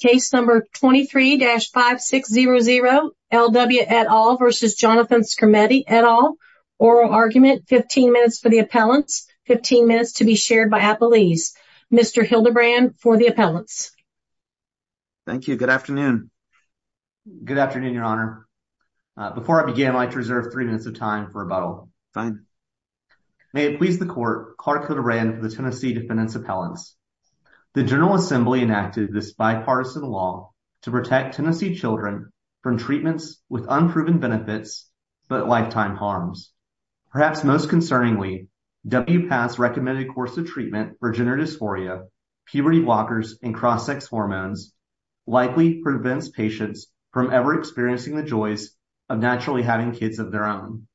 Case No. 23-5600, L W et al. v. Jonathan Skrmetti et al. Oral Argument, 15 minutes for the appellants, 15 minutes to be shared by appellees. Mr. Hildebrand for the appellants. Thank you. Good afternoon. Good afternoon, Your Honor. Before I begin, I'd like to reserve three minutes of time for rebuttal. Fine. May it please the Court, Clark Hildebrand for the Tennessee bipartisan law to protect Tennessee children from treatments with unproven benefits but lifetime harms. Perhaps most concerningly, WPATH's recommended course of treatment for gender dysphoria, puberty blockers, and cross-sex hormones likely prevents patients from ever experiencing the joys of naturally having kids of their own.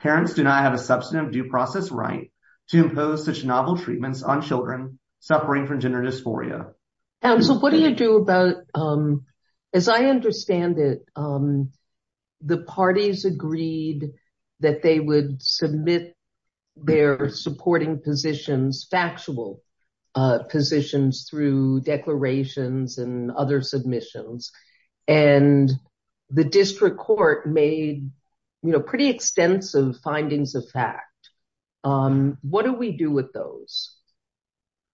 Parents do not have a substantive due process right to impose such novel treatments on children suffering from gender dysphoria. So what do you do about, as I understand it, the parties agreed that they would submit their supporting positions, factual positions through declarations and other submissions, and the district court made pretty extensive findings of fact. What do we do with those?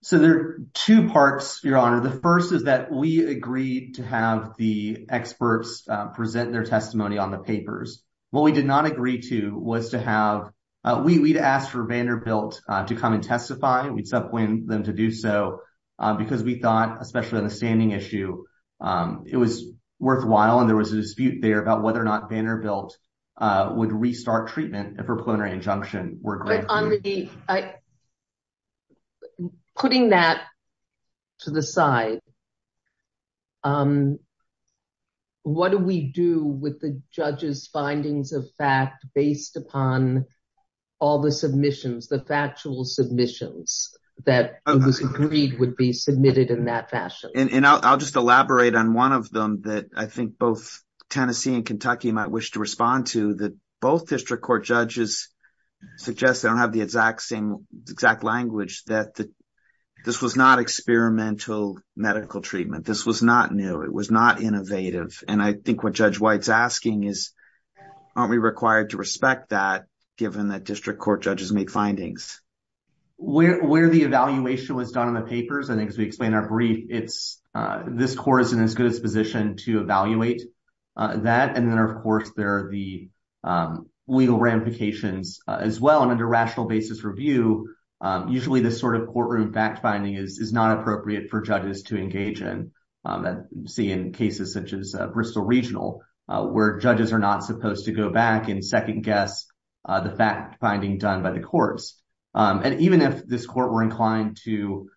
So there are two parts, Your Honor. The first is that we agreed to have the experts present their testimony on the papers. What we did not agree to was to have — we'd asked for Vanderbilt to come and testify. We'd subpoenaed them to do so because we thought, especially on the standing issue, it was worthwhile and there was a dispute there about whether or not Vanderbilt would restart treatment if her plenary injunction were granted. I — putting that to the side, what do we do with the judges' findings of fact based upon all the submissions, the factual submissions that it was agreed would be submitted in that fashion? And I'll just elaborate on one of them that I think both Tennessee and Kentucky might wish to have. They don't have the exact same — exact language that this was not experimental medical treatment. This was not new. It was not innovative. And I think what Judge White's asking is, aren't we required to respect that given that district court judges make findings? Where the evaluation was done on the papers, and as we explained in our brief, it's — this court is in as good a position to evaluate that. And then, of course, there are the cases where, in a rational basis review, usually this sort of courtroom fact-finding is not appropriate for judges to engage in. You see in cases such as Bristol Regional, where judges are not supposed to go back and second-guess the fact-finding done by the courts. And even if this court were inclined to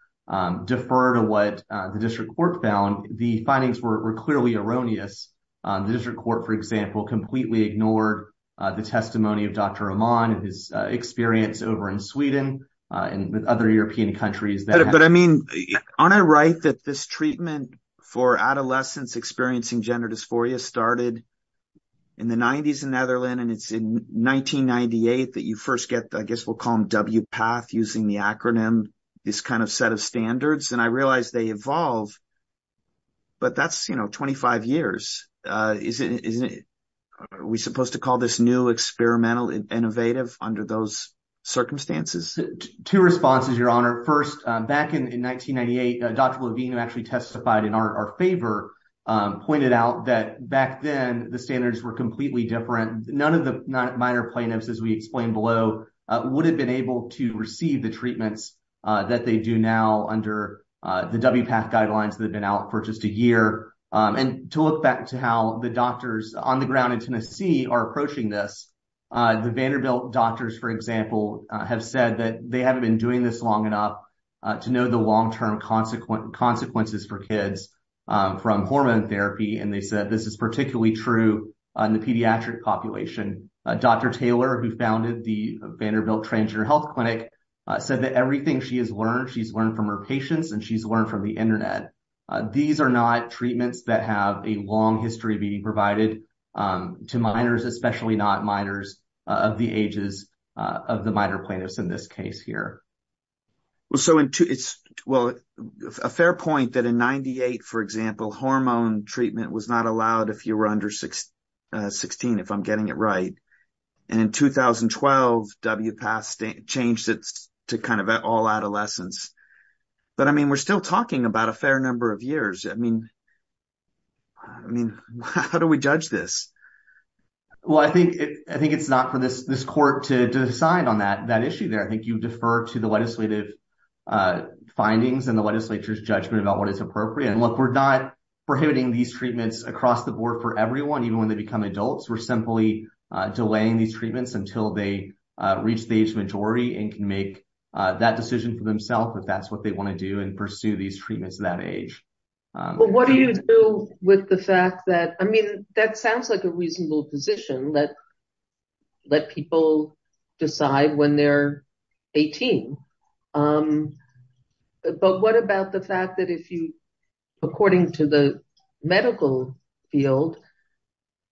defer to what the district court found, the findings were clearly erroneous. The district court, for example, completely ignored the testimony of Dr. Rahman and his experience over in Sweden and other European countries. But, I mean, aren't I right that this treatment for adolescents experiencing gender dysphoria started in the 90s in Netherlands, and it's in 1998 that you first get, I guess we'll call them, WPATH, using the acronym, this kind of set of standards. And I realize they evolve, but that's, you know, 25 years. Isn't it — are we supposed to call this new, experimental, innovative under those circumstances? Two responses, Your Honor. First, back in 1998, Dr. Levine, who actually testified in our favor, pointed out that back then the standards were completely different. None of the minor plaintiffs, as we explained below, would have been able to receive the treatments that they do now under the WPATH guidelines that have been out for just a year. And to look back to how the doctors on the ground in Tennessee are approaching this, the Vanderbilt doctors, for example, have said that they haven't been doing this long enough to know the long-term consequences for kids from hormone therapy, and they said this is particularly true in the pediatric population. Dr. Taylor, who founded the Vanderbilt Transgender Health Clinic, said that everything she has learned from her patients and she's learned from the internet. These are not treatments that have a long history of being provided to minors, especially not minors of the ages of the minor plaintiffs in this case here. Well, so it's — well, a fair point that in 98, for example, hormone treatment was not allowed if you were under 16, if I'm getting it right. And in 2012, WPATH changed it to kind of all adolescents. But I mean, we're still talking about a fair number of years. I mean, how do we judge this? Well, I think it's not for this court to decide on that issue there. I think you defer to the legislative findings and the legislature's judgment about what is appropriate. And look, we're not prohibiting these treatments across the board for everyone, even when they become adults. We're simply delaying these treatments until they reach the age majority and can make that decision for themselves if that's what they want to do and pursue these treatments at that age. But what do you do with the fact that — I mean, that sounds like a reasonable position, let people decide when they're 18. But what about the fact that if you, according to the medical field,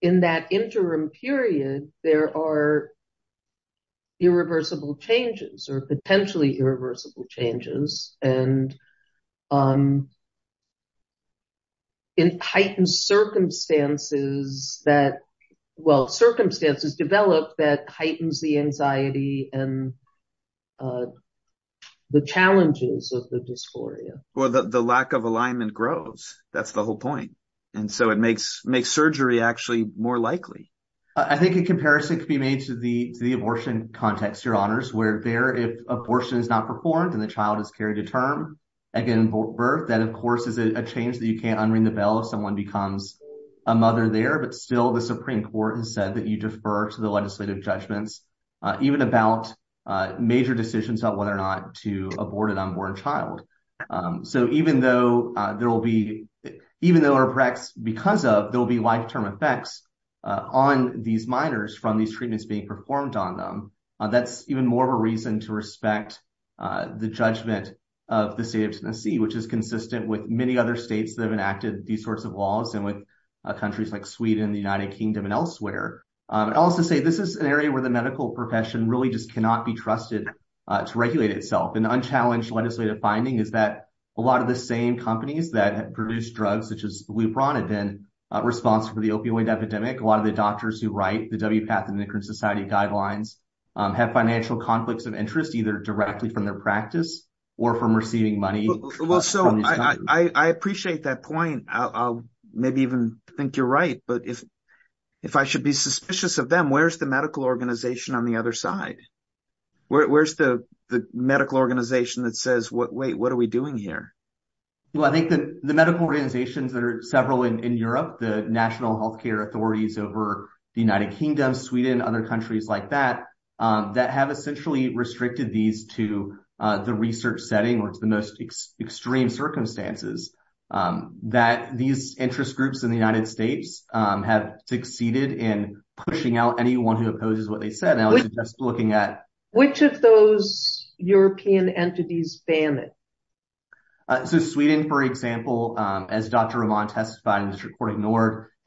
in that interim period, there are irreversible changes or potentially irreversible changes and heightened circumstances that — well, circumstances develop that heightens the anxiety and the challenges of the dysphoria? Well, the lack of alignment grows. That's the whole point. And so it makes surgery actually more likely. I think a comparison could be made to the abortion context, Your Honors, where there, if abortion is not performed and the child has carried a term and given birth, that, of course, is a change that you can't unring the bell if someone becomes a mother there. But still, the Supreme Court has said that you defer to the legislative judgments, even about major decisions about whether or not to abort an unborn child. So even though there will be — even though or perhaps because of there will be life-term effects on these minors from these treatments being performed on them, that's even more of a reason to respect the judgment of the state of Tennessee, which is consistent with many other states that have enacted these sorts of laws and with countries like Sweden, the United Kingdom, and elsewhere. I'd also say this is an area where the medical profession really just cannot be the same companies that produce drugs, such as Lupron, have been responsible for the opioid epidemic. A lot of the doctors who write the WPATH and the Nikrin Society Guidelines have financial conflicts of interest, either directly from their practice or from receiving money. Well, so I appreciate that point. I'll maybe even think you're right. But if I should be suspicious of them, where's the medical organization on the other side? Where's the medical organization that says, wait, what are we doing here? Well, I think that the medical organizations that are several in Europe, the national healthcare authorities over the United Kingdom, Sweden, other countries like that, that have essentially restricted these to the research setting or to the most extreme circumstances, that these interest groups in the United States have succeeded in pushing out anyone who opposes what they said. Which of those European entities ban it? So Sweden, for example, as Dr. Roman testified in this recording,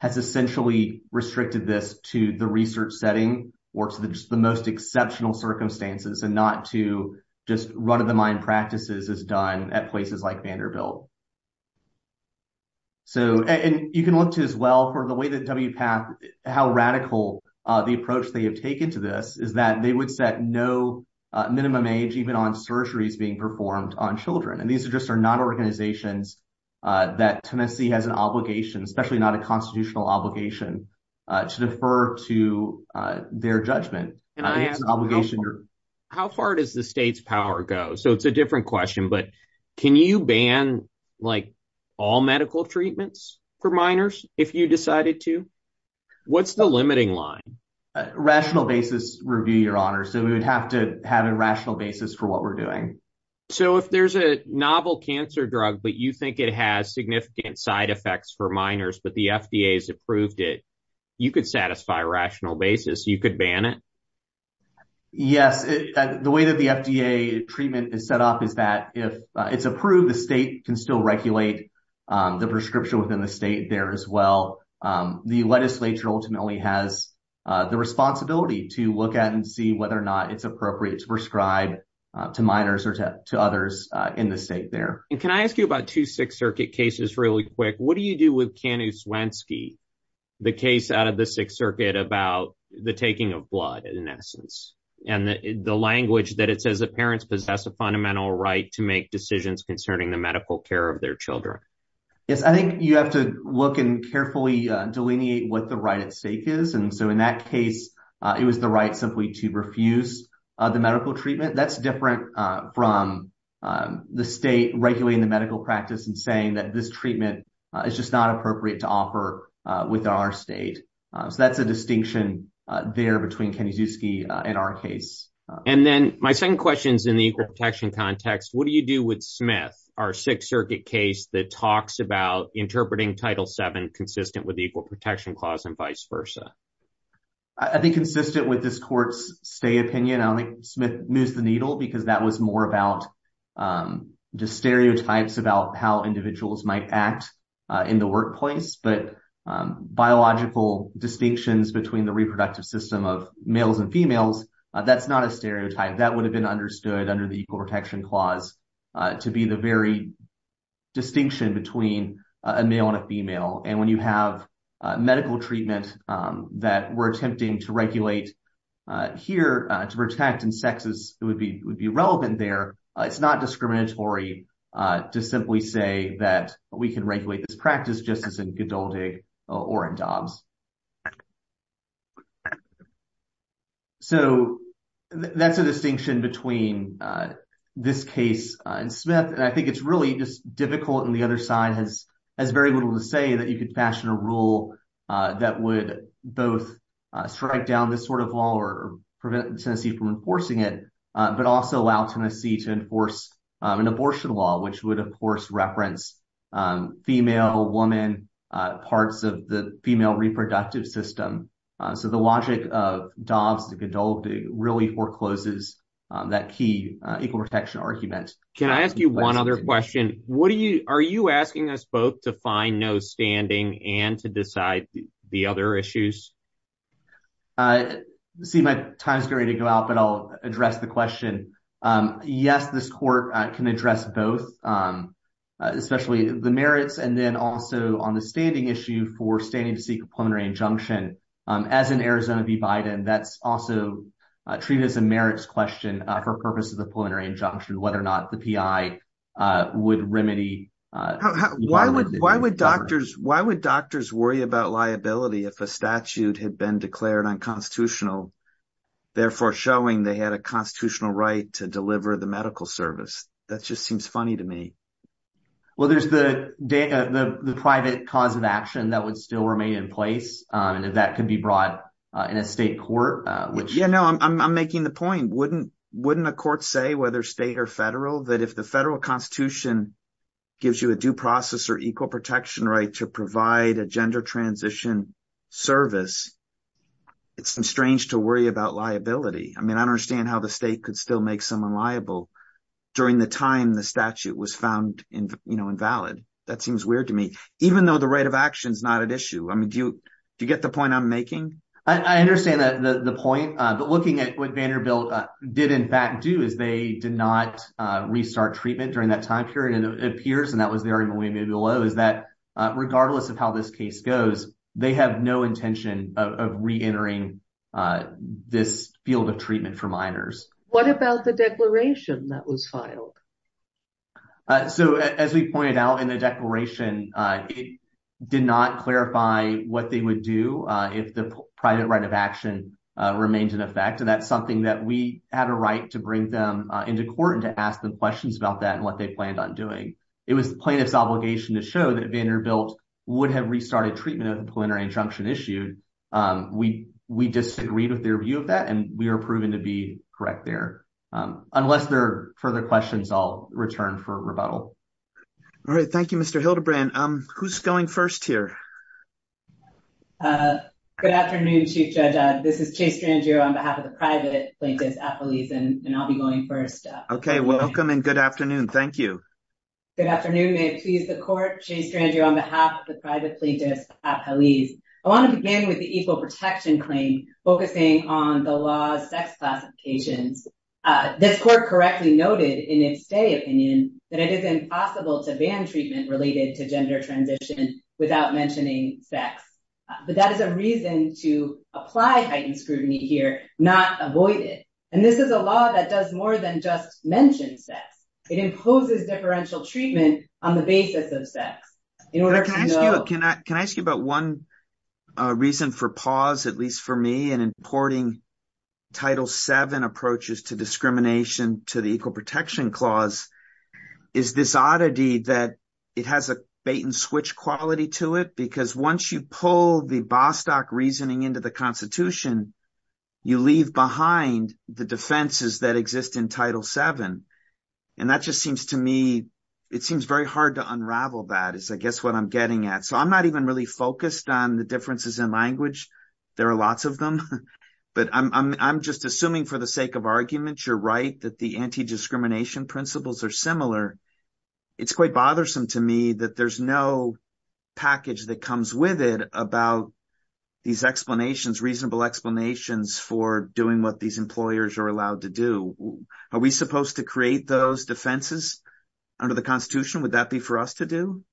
has essentially restricted this to the research setting or to the most exceptional circumstances and not to just run-of-the-mind practices as done at places like Vanderbilt. And you can look to as well for the way that WPATH, how radical the approach they have taken to this is that they would set no minimum age even on surgeries being performed on children. And these are just are not organizations that Tennessee has an obligation, especially not a constitutional obligation, to defer to their judgment. It's an obligation. How far does the state's power go? So it's a different question, but can you ban all medical treatments for minors if you decided to? What's the limiting line? Rational basis review, Your Honor. So we would have to have a rational basis for what we're doing. So if there's a novel cancer drug, but you think it has significant side effects for minors, but the FDA has approved it, you could satisfy a rational basis. You could ban it? Yes. The way that the FDA treatment is set up is that if it's approved, the state can still regulate the prescription within the state there as well. The legislature ultimately has the responsibility to look at and see whether or not it's appropriate to prescribe to minors or to others in the state there. And can I ask you about two Sixth Circuit cases really quick? What do you do with Kanu Swensky, the case out of the Sixth Circuit about the taking of blood in essence, and the language that it says that parents possess a fundamental right to make decisions concerning the medical care of their children? Yes. I think you have to look and carefully delineate what the right at stake is. And so in that case, it was the right simply to refuse the medical treatment. That's different from the state regulating the medical practice and saying that this treatment is just not appropriate to offer with our state. So that's a distinction there between Kanu Swensky and our case. And then my second question is in the equal protection context. What do you do with Smith, our Sixth Circuit case that talks about interpreting Title VII consistent with I think consistent with this court's stay opinion? I don't think Smith moves the needle because that was more about the stereotypes about how individuals might act in the workplace. But biological distinctions between the reproductive system of males and females, that's not a stereotype. That would have been understood under the equal protection clause to be the very between a male and a female. And when you have medical treatment that we're attempting to regulate here to protect in sexes, it would be relevant there. It's not discriminatory to simply say that we can regulate this practice just as in Gdaldig or in Dobbs. So that's a distinction between this case and Smith. And I think it's really just difficult and the other side has very little to say that you could fashion a rule that would both strike down this sort of law or prevent Tennessee from enforcing it, but also allow Tennessee to enforce an abortion law, which would, of course, reference female, woman parts of the female reproductive system. So the logic of Dobbs and Gdaldig really forecloses that key equal protection argument. Can I ask you one other question? What are you, are you asking us both to find no standing and to decide the other issues? I see my time's getting ready to go out, but I'll address the question. Yes, this court can address both, especially the merits and then also on the standing issue for standing to seek a preliminary injunction. As in Arizona v. Biden, that's also treated as a merits question for purpose of the preliminary injunction, whether or not the PI would remedy. Why would doctors worry about liability if a statute had been declared unconstitutional, therefore showing they had a constitutional right to deliver the medical service? That just seems funny to me. Well, there's the private cause of action that would remain in place, and that could be brought in a state court. Yeah, no, I'm making the point. Wouldn't a court say, whether state or federal, that if the federal constitution gives you a due process or equal protection right to provide a gender transition service, it's strange to worry about liability. I mean, I don't understand how the state could still make someone liable during the time the statute was found invalid. That seems weird to me. Even though the right of action is not at issue. I mean, do you get the point I'm making? I understand the point, but looking at what Vanderbilt did in fact do is they did not restart treatment during that time period. It appears, and that was there in the way maybe below, is that regardless of how this case goes, they have no intention of reentering this field of treatment for minors. What about the declaration that was filed? So, as we pointed out in the declaration, it did not clarify what they would do if the private right of action remained in effect. And that's something that we had a right to bring them into court and to ask them questions about that and what they planned on doing. It was the plaintiff's obligation to show that Vanderbilt would have restarted treatment if a preliminary injunction issued. We disagreed with their view of that, and we were proven to be correct there. Unless there further questions, I'll return for rebuttal. All right. Thank you, Mr. Hildebrandt. Who's going first here? Good afternoon, Chief Judge. This is Chase Strangio on behalf of the private plaintiffs at Hallease, and I'll be going first. Okay. Welcome and good afternoon. Thank you. Good afternoon. May it please the court. Chase Strangio on behalf of the private plaintiffs at Hallease. I want to begin with the equal protection claim focusing on the law's sex classifications. This court correctly noted in its stay opinion that it is impossible to ban treatment related to gender transition without mentioning sex. But that is a reason to apply heightened scrutiny here, not avoid it. And this is a law that does more than just mention sex. It imposes differential treatment on the basis of sex. Can I ask you about one reason for pause, at least for me, in importing Title VII approaches to discrimination to the equal protection clause? Is this oddity that it has a bait and switch quality to it? Because once you pull the Bostock reasoning into the Constitution, you leave behind the defenses that exist in Title VII. And that just seems to me, it seems very hard to unravel that is, I guess, what I'm getting at. So I'm not even really focused on the differences in language. There are lots of them. But I'm just assuming for the sake of argument, you're right that the anti-discrimination principles are similar. It's quite bothersome to me that there's no package that comes with it about these explanations, reasonable explanations for doing what these employers are allowed to do. Are we supposed to create those defenses under the Constitution? Would that be for us to do?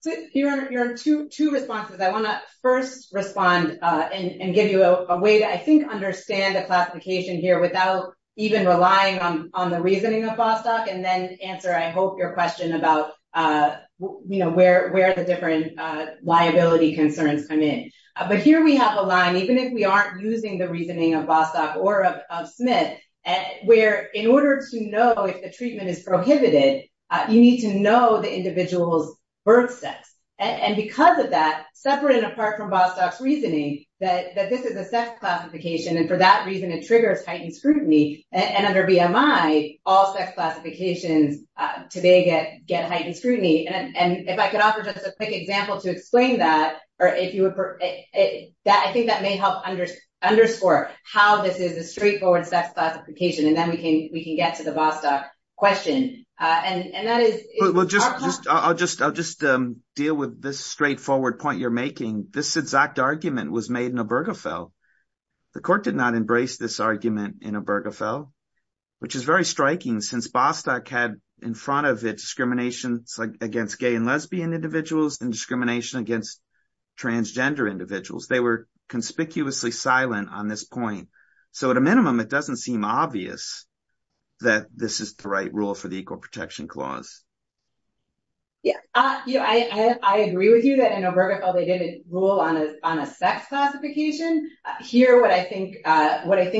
So here are your two responses. I want to first respond and give you a way to, I think, understand the classification here without even relying on the reasoning of Bostock, and then answer, I hope, your question about where the different liability concerns come in. But here we have a line, even if we aren't using the reasoning of Bostock or of Smith, where in order to know if the treatment is prohibited, you need to know the individual's birth sex. And because of that, separate and apart from Bostock's reasoning, that this is a sex classification, and for that reason, it triggers heightened scrutiny. And under BMI, all sex classifications today get heightened scrutiny. And if I could offer just a quick example to explain that, I think that may help underscore how this is a straightforward sex classification, and then we can get to the Bostock question. I'll just deal with this straightforward point you're making. This exact argument was made in Obergefell. The court did not embrace this argument in Obergefell, which is very striking since Bostock had in front of it discrimination against gay and lesbian individuals and discrimination against transgender individuals. They were conspicuously silent on this point. So at a minimum, it doesn't seem obvious that this is the right rule for the Equal Protection Clause. Yeah. I agree with you that in Obergefell, they didn't rule on a sex classification. Here, what I think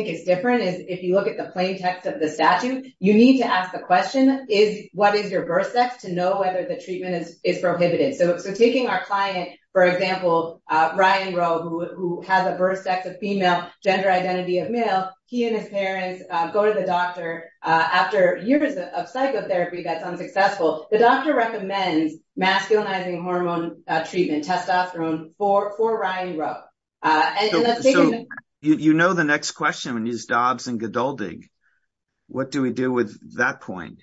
is different is if you look at the plain text of the statute, you need to ask the question, what is your birth sex, to know whether the treatment is prohibited. So taking our client, for example, Ryan Rowe, who has a birth sex of female, gender identity of male, he and his parents go to the doctor after years of psychotherapy that's unsuccessful. The doctor recommends masculinizing hormone treatment, testosterone, for Ryan Rowe. So you know the next question is Dobs and Godeldig. What do we do with that point?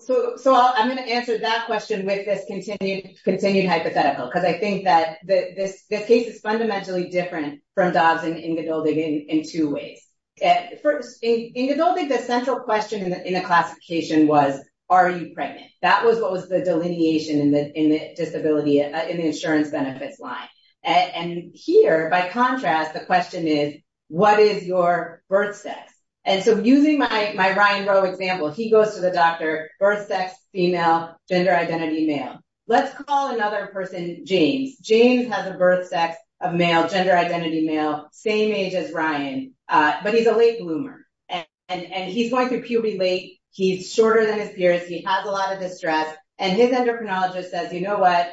So I'm going to answer that question with this continued hypothetical, because I think that this case is fundamentally different from Dobs and Godeldig in two ways. First, in Godeldig, the central question in the classification was, are you pregnant? That was what was the here. By contrast, the question is, what is your birth sex? And so using my Ryan Rowe example, he goes to the doctor, birth sex, female, gender identity, male. Let's call another person, James. James has a birth sex of male, gender identity male, same age as Ryan, but he's a late bloomer. And he's going through puberty late. He's shorter than his peers. He has a lot of distress. And his endocrinologist says, you know what,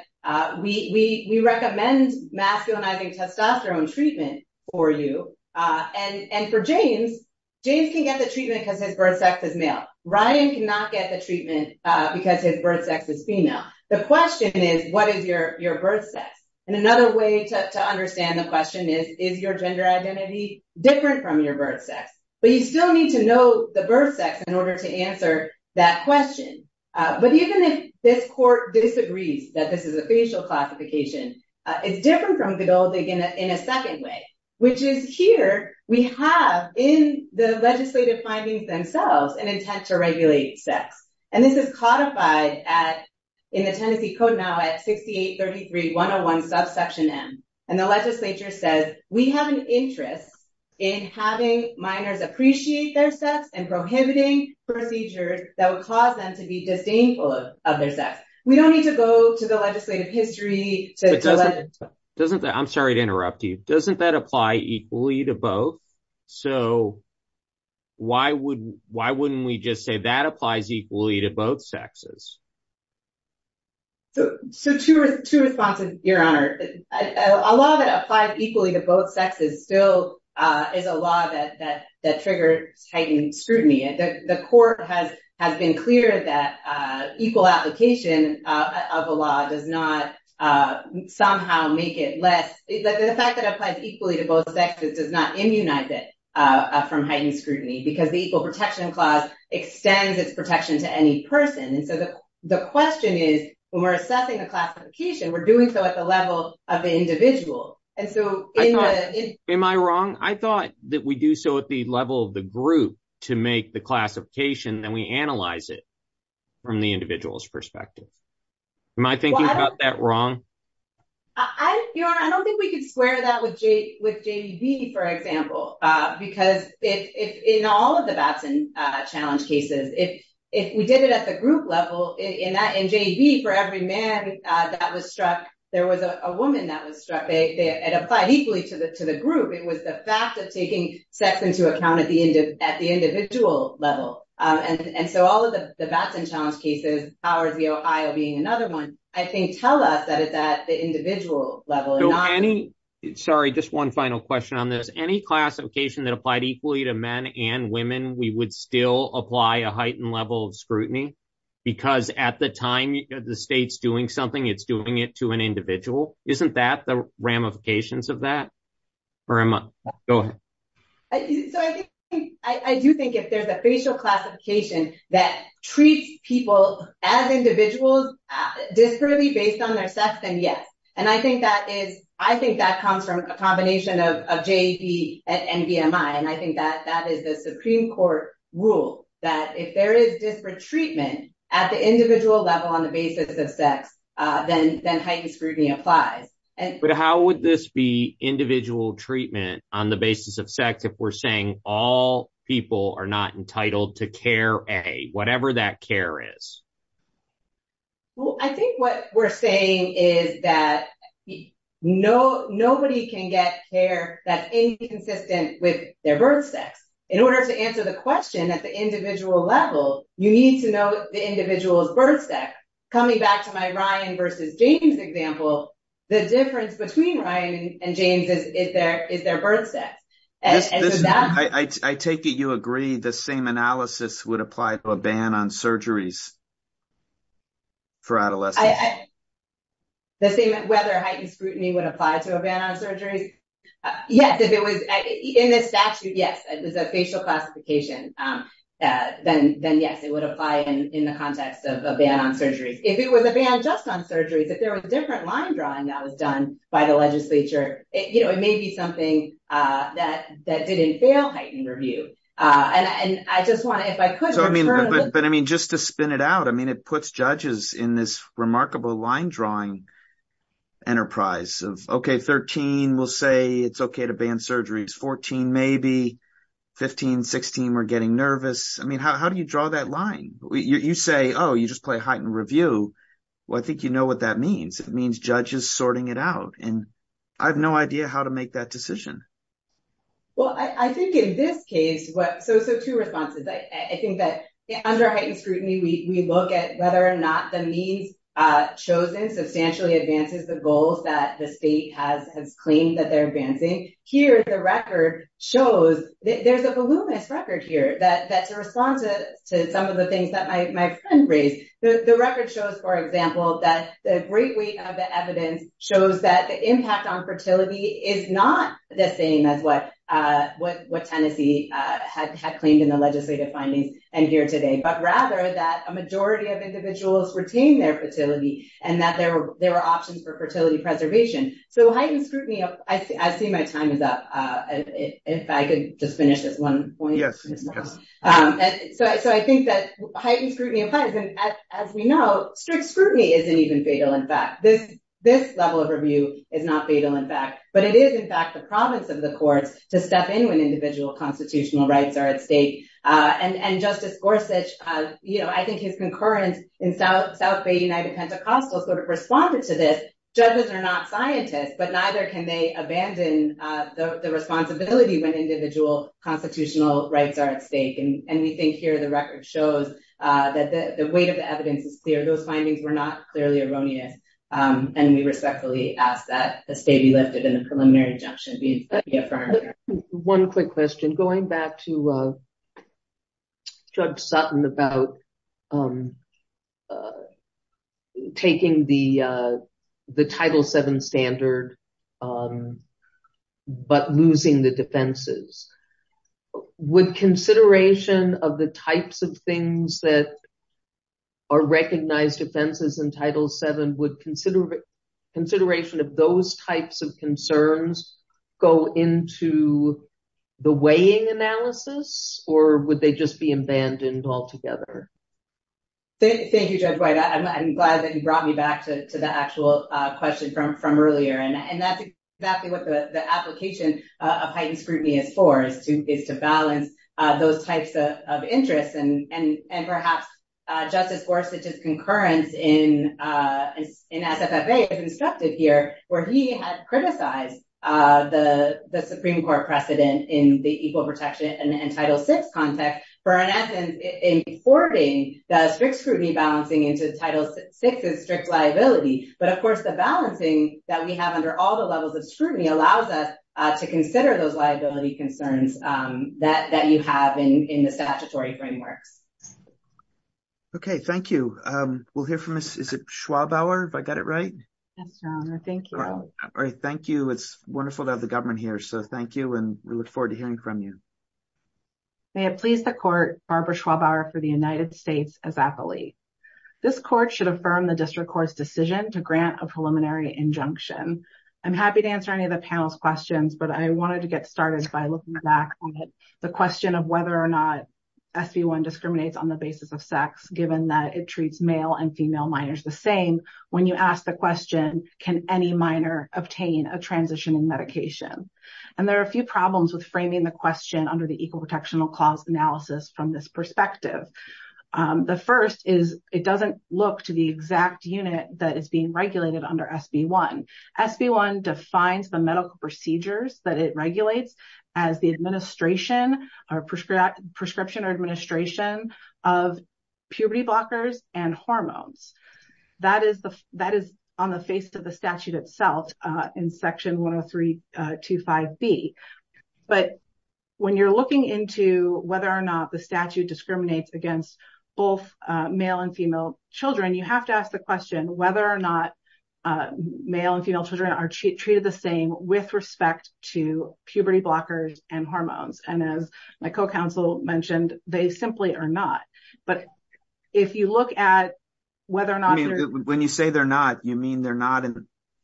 we recommend masculinizing testosterone treatment for you. And for James, James can get the treatment because his birth sex is male. Ryan cannot get the treatment because his birth sex is female. The question is, what is your birth sex? And another way to understand the question is, is your gender identity different from your birth sex? But you still need to know the birth sex in order to understand the question. So, if this court disagrees that this is a facial classification, it's different from Godot in a second way, which is here we have in the legislative findings themselves an intent to regulate sex. And this is codified in the Tennessee Code now at 6833 101 subsection M. And the legislature says, we have an interest in having minors appreciate their sex and prohibiting procedures that would cause them to be disdainful of their sex. We don't need to go to the legislative history. I'm sorry to interrupt you. Doesn't that apply equally to both? So, why wouldn't we just say that applies equally to both sexes? So, two responses, Your Honor. A law that applies equally to both sexes still is a law that triggers heightened scrutiny. The court has been clear that equal application of a law does not somehow make it less. The fact that it applies equally to both sexes does not immunize it from heightened scrutiny because the Equal Protection Clause extends its protection to any person. And so, the question is, when we're assessing a classification, we're doing so at the we do so at the level of the group to make the classification, then we analyze it from the individual's perspective. Am I thinking about that wrong? I don't think we can square that with JB, for example, because in all of the Batson challenge cases, if we did it at the group level, in JB, for every man that was struck, there was a woman that was struck. It applied equally to the group. It was the fact of taking sex into account at the individual level. And so, all of the Batson challenge cases, Howard v. Ohio being another one, I think tell us that it's at the individual level. Sorry, just one final question on this. Any classification that applied equally to men and women, we would still apply a heightened level of scrutiny? Because at the time, the state's doing something, it's doing it to an individual. Isn't that the ramifications of that? Go ahead. So, I do think if there's a facial classification that treats people as individuals disparately based on their sex, then yes. And I think that comes from a combination of JB and NVMI. And I think that that is the Supreme Court rule that if there is disparate treatment at the basis of sex, then heightened scrutiny applies. But how would this be individual treatment on the basis of sex if we're saying all people are not entitled to care A, whatever that care is? I think what we're saying is that nobody can get care that's inconsistent with their birth sex. In order to answer the question at the individual level, you need to know the individual's birth sex. Coming back to my Ryan versus James example, the difference between Ryan and James is their birth sex. I take it you agree the same analysis would apply to a ban on surgeries for adolescents? The same whether heightened scrutiny would apply to a ban on surgeries? Yes, if it was in this statute, yes, it was a facial classification, then yes, it would apply in the context of a ban on surgeries. If it was a ban just on surgeries, if there was a different line drawing that was done by the legislature, it may be something that didn't fail heightened review. But I mean, just to spin it out, I mean, it puts judges in this remarkable line drawing enterprise of, okay, 13, we'll say it's okay to ban surgeries, 14, maybe, 15, 16, we're getting nervous. I mean, how do you draw that line? You say, oh, you just play heightened review. Well, I think you know what that means. It means judges sorting it out. And I have no idea how to make that decision. Well, I think in this case, so two responses. I think that under heightened scrutiny, we look at whether or not the means chosen substantially advances the goals that the state has claimed that they're advancing. Here, the record shows that there's a voluminous record here that to respond to some of the things that my friend raised. The record shows, for example, that the great weight of the evidence shows that the impact on fertility is not the same as what Tennessee had claimed in the legislative findings and here today, but rather that a majority of individuals retain their fertility and that there were options for fertility preservation. So I think that heightened scrutiny applies. And as we know, strict scrutiny isn't even fatal. In fact, this level of review is not fatal. In fact, but it is, in fact, the province of the courts to step in when individual constitutional rights are at stake. And Justice Gorsuch, I think his concurrence in South Bay United Pentecostal sort of responded to this. Judges are not scientists, but neither can they abandon the responsibility when individual constitutional rights are at stake. And we think here, the record shows that the weight of the evidence is clear. Those findings were not clearly erroneous. And we respectfully ask that the state be lifted and the preliminary injunction be affirmed. One quick question. Going back to Judge Sutton about taking the Title VII standard, but losing the defenses, would consideration of the types of things that are recognized offenses in Title VII, would consideration of those types of concerns go into the weighing analysis or would they just be abandoned altogether? Thank you, Judge White. I'm glad that you brought me back to the actual question from earlier. And that's exactly what the application of heightened scrutiny is for, is to balance those types of interests. And perhaps Justice Gorsuch's concurrence in SFFA is instructed here, where he had criticized the Supreme Court precedent in the equal protection and Title VI context for, in essence, in forwarding the strict scrutiny balancing into Title VI's strict liability. But of course, the balancing that we have under all the levels of scrutiny allows us to consider those liability concerns that you have in the statutory frameworks. Okay. Thank you. We'll hear from Ms. Schwabauer, if I got it right. Yes, Your Honor. Thank you. Thank you. It's wonderful to have the government here. So thank you, and we look forward to hearing from you. May it please the Court, Barbara Schwabauer for the United States as athlete. This Court should affirm the District Court's decision to grant a preliminary injunction. I'm happy to answer any of the panel's questions, but I wanted to get started by looking back on the question of whether or not SB1 discriminates on the basis of sex, given that it treats male and female minors the same when you ask the question, can any minor obtain a transition in medication? And there are a few under the Equal Protection Clause analysis from this perspective. The first is it doesn't look to the exact unit that is being regulated under SB1. SB1 defines the medical procedures that it regulates as the administration or prescription or administration of puberty blockers and hormones. That is on the face of the statute itself in Section 10325B. But when you're looking into whether or not the statute discriminates against both male and female children, you have to ask the question whether or not male and female children are treated the same with respect to puberty blockers and hormones. And as my co-counsel mentioned, they simply are not. But if you look at whether or not... When you say they're not, you mean they're not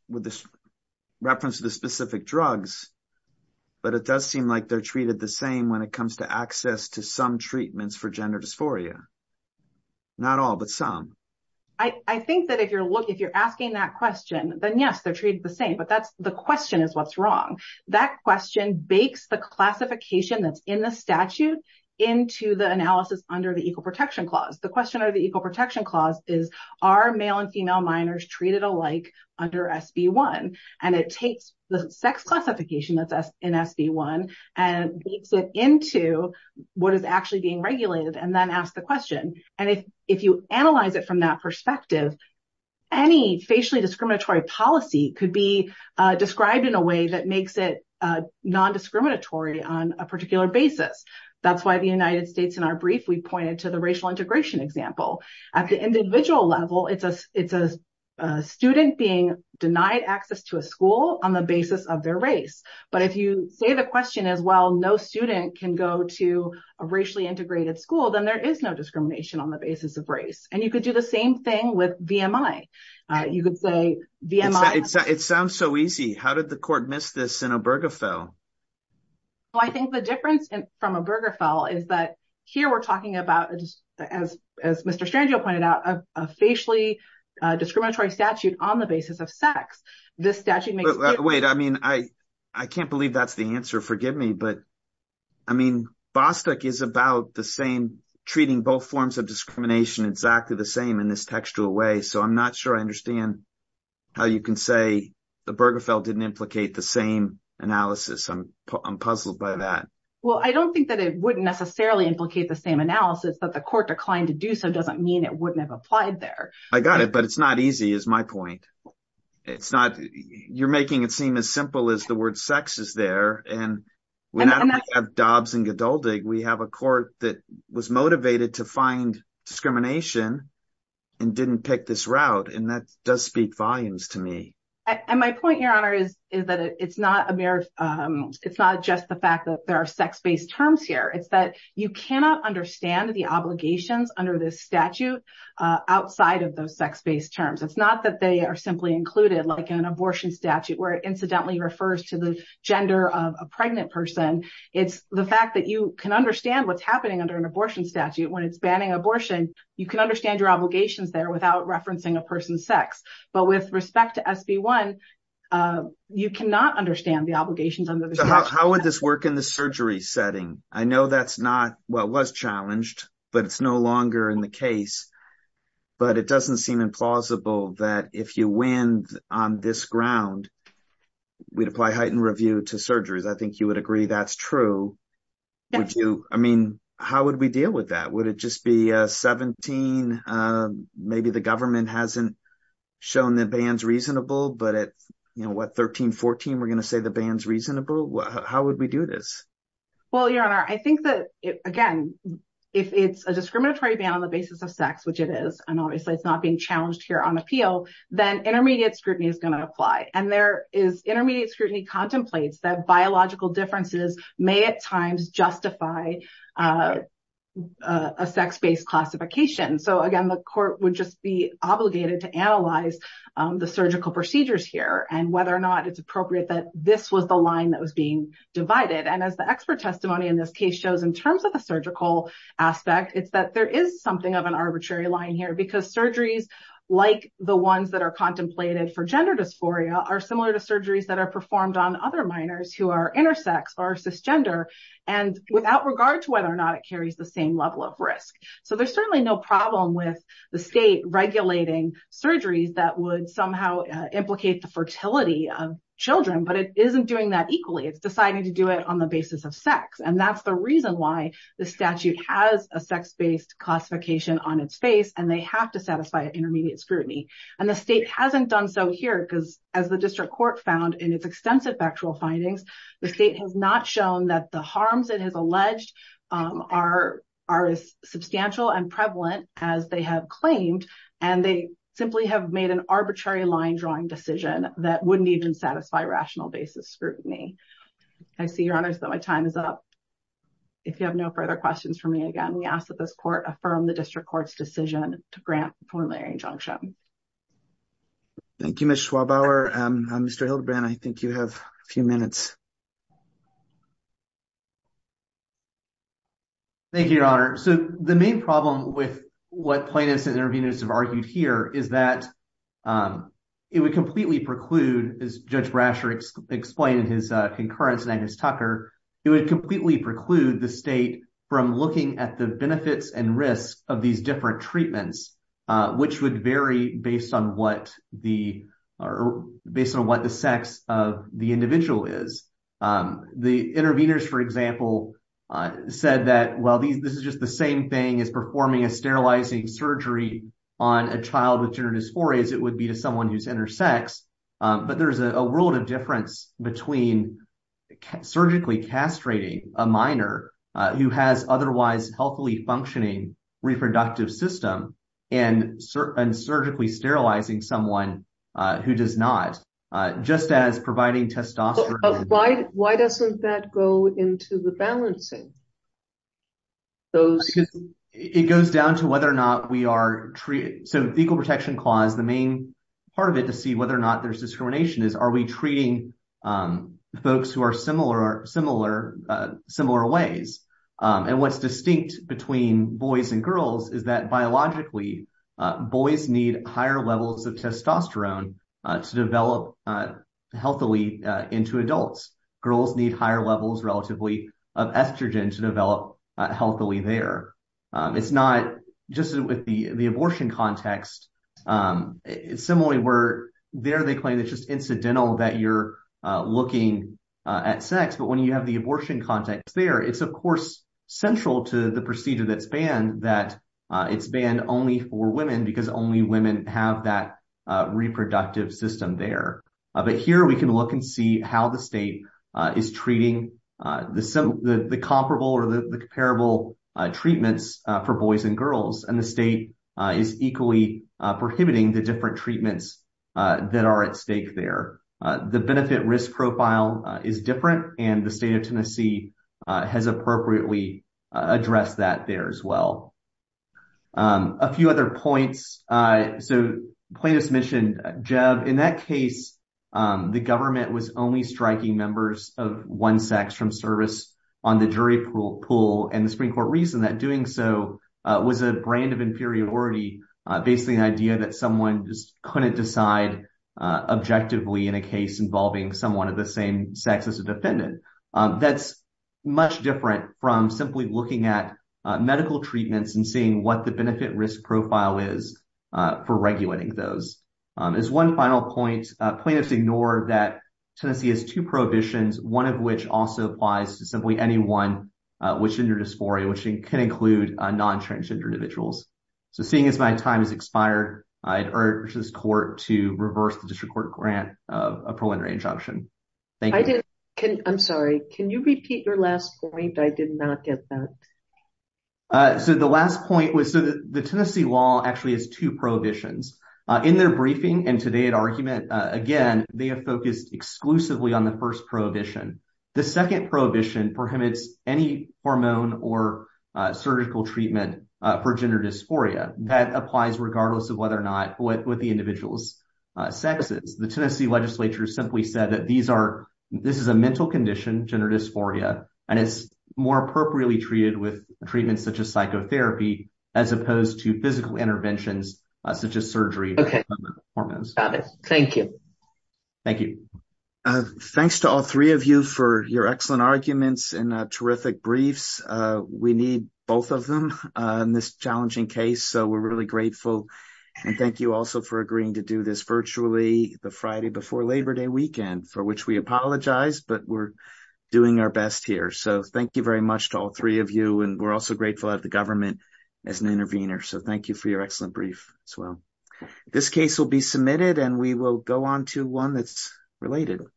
with this reference to the specific drugs, but it does seem like they're treated the same when it comes to access to some treatments for gender dysphoria. Not all, but some. I think that if you're asking that question, then yes, they're treated the same. But that's the question is what's wrong. That question bakes the classification that's in the statute into the analysis under the Equal Protection Clause. The question of the Equal Protection Clause is, are male and female minors treated alike under SB1? And it takes the sex classification that's in SB1 and beats it into what is actually being regulated and then ask the question. And if you analyze it from that perspective, any facially discriminatory policy could be described in a way that makes it non-discriminatory on a particular basis. That's why the United States, in our brief, we pointed to the racial integration example. At the individual level, it's a student being denied access to a school on the basis of their race. But if you say the question is, well, no student can go to a racially integrated school, then there is no discrimination on the basis of race. And you could do the same thing with VMI. You could say VMI... It sounds so easy. How did the court miss this in Obergefell? Well, I think the difference from Obergefell is that here we're talking about, as Mr. Strangio pointed out, a facially discriminatory statute on the basis of sex. This statute makes... Wait, I mean, I can't believe that's the answer. Forgive me. But, I mean, Bostock is about the same, treating both forms of discrimination exactly the same in this textual way. So I'm not sure I understand how you can say the Obergefell didn't implicate the same analysis I'm puzzled by that. Well, I don't think that it wouldn't necessarily implicate the same analysis, that the court declined to do so doesn't mean it wouldn't have applied there. I got it. But it's not easy, is my point. You're making it seem as simple as the word sex is there. And we not only have Dobbs and Geduldig, we have a court that was motivated to find discrimination and didn't pick this route. And that does speak volumes to me. And my point, Your Honor, is that it's not just the fact that there are sex-based terms here. It's that you cannot understand the obligations under this statute outside of those sex-based terms. It's not that they are simply included like an abortion statute, where it incidentally refers to the gender of a pregnant person. It's the fact that you can understand what's happening under an abortion statute when it's banning abortion. You can understand your obligations there without referencing a person's sex. But with respect to SB 1, you cannot understand the obligations under the statute. How would this work in the surgery setting? I know that's not what was challenged, but it's no longer in the case. But it doesn't seem implausible that if you win on this ground, we'd apply heightened review to surgeries. I think you would agree that's true. Would you? I mean, how would we deal with that? Would it just be 17? Maybe the government hasn't shown the bans reasonable, but at what, 13, 14, we're going to say the ban's reasonable? How would we do this? Well, Your Honor, I think that, again, if it's a discriminatory ban on the basis of sex, which it is, and obviously it's not being challenged here on appeal, then intermediate scrutiny is going to apply. And there is justify a sex-based classification. So again, the court would just be obligated to analyze the surgical procedures here and whether or not it's appropriate that this was the line that was being divided. And as the expert testimony in this case shows in terms of the surgical aspect, it's that there is something of an arbitrary line here because surgeries, like the ones that are contemplated for gender dysphoria, are similar to surgeries that are and without regard to whether or not it carries the same level of risk. So there's certainly no problem with the state regulating surgeries that would somehow implicate the fertility of children, but it isn't doing that equally. It's deciding to do it on the basis of sex. And that's the reason why the statute has a sex-based classification on its face and they have to satisfy intermediate scrutiny. And the state hasn't done so here because as the district court found in its extensive factual findings, the state has not shown that the harms it has alleged are as substantial and prevalent as they have claimed. And they simply have made an arbitrary line drawing decision that wouldn't even satisfy rational basis scrutiny. I see, Your Honors, that my time is up. If you have no further questions for me, again, we ask that this court affirm the district court's decision to grant the preliminary injunction. Thank you, Ms. Schwabauer. Mr. Hildebrand, I think you have a few minutes. Thank you, Your Honor. So the main problem with what plaintiffs and interveners have argued here is that it would completely preclude, as Judge Brasher explained in his concurrence and Agnes Tucker, it would completely preclude the state from looking at the benefits and risks of these treatments, which would vary based on what the sex of the individual is. The interveners, for example, said that, well, this is just the same thing as performing a sterilizing surgery on a child with gender dysphoria as it would be to someone who's intersex. But there's a world of difference between surgically castrating a minor who has otherwise healthily functioning reproductive system and surgically sterilizing someone who does not, just as providing testosterone... Why doesn't that go into the balancing? It goes down to whether or not we are... So the Equal Protection Clause, the main part of it to see whether or not there's discrimination is, are we treating folks who are similar ways? And what's distinct between boys and girls is that biologically, boys need higher levels of testosterone to develop healthily into adults. Girls need higher levels relatively of estrogen to develop healthily there. It's not just with the abortion context. Similarly, where there they claim it's just incidental that you're looking at sex, but when you have the abortion context there, it's of course central to the procedure that's banned that it's banned only for women because only women have that reproductive system there. But here we can look and see how the state is treating the comparable or the comparable treatments for boys and girls. And the state is equally prohibiting the different treatments that are at stake there. The benefit risk profile is different and the state of Tennessee has appropriately addressed that there as well. A few other points. So plaintiff's mission, Jeb, in that case, the government was only striking members of one sex from service on the jury pool and the Supreme Court reason that doing so was a brand of inferiority, basically an idea that someone just couldn't decide objectively in a case involving someone of the same sex as a defendant. That's much different from simply looking at medical treatments and seeing what the benefit risk profile is for regulating those. As one final point, plaintiffs ignore that Tennessee has two prohibitions, one of which also applies to simply anyone with gender dysphoria, which can include non-transgender individuals. So seeing as my time has expired, I urge this court to reverse the district court grant of a preliminary injunction. I'm sorry, can you repeat your last point? I did not get that. So the last point was the Tennessee law actually has two prohibitions. In their briefing and argument, again, they have focused exclusively on the first prohibition. The second prohibition prohibits any hormone or surgical treatment for gender dysphoria that applies regardless of whether or not what the individual's sex is. The Tennessee legislature simply said that these are, this is a mental condition, gender dysphoria, and it's more appropriately treated with treatments such as psychotherapy as opposed to physical interventions such as surgery. Thank you. Thank you. Thanks to all three of you for your excellent arguments and terrific briefs. We need both of them in this challenging case. So we're really grateful. And thank you also for agreeing to do this virtually the Friday before Labor Day weekend, for which we apologize, but we're doing our best here. So thank you very much to all three of you. And we're also grateful that the government as an intervener. So thank you for your excellent brief as well. This case will be submitted and we will go on to one that's related.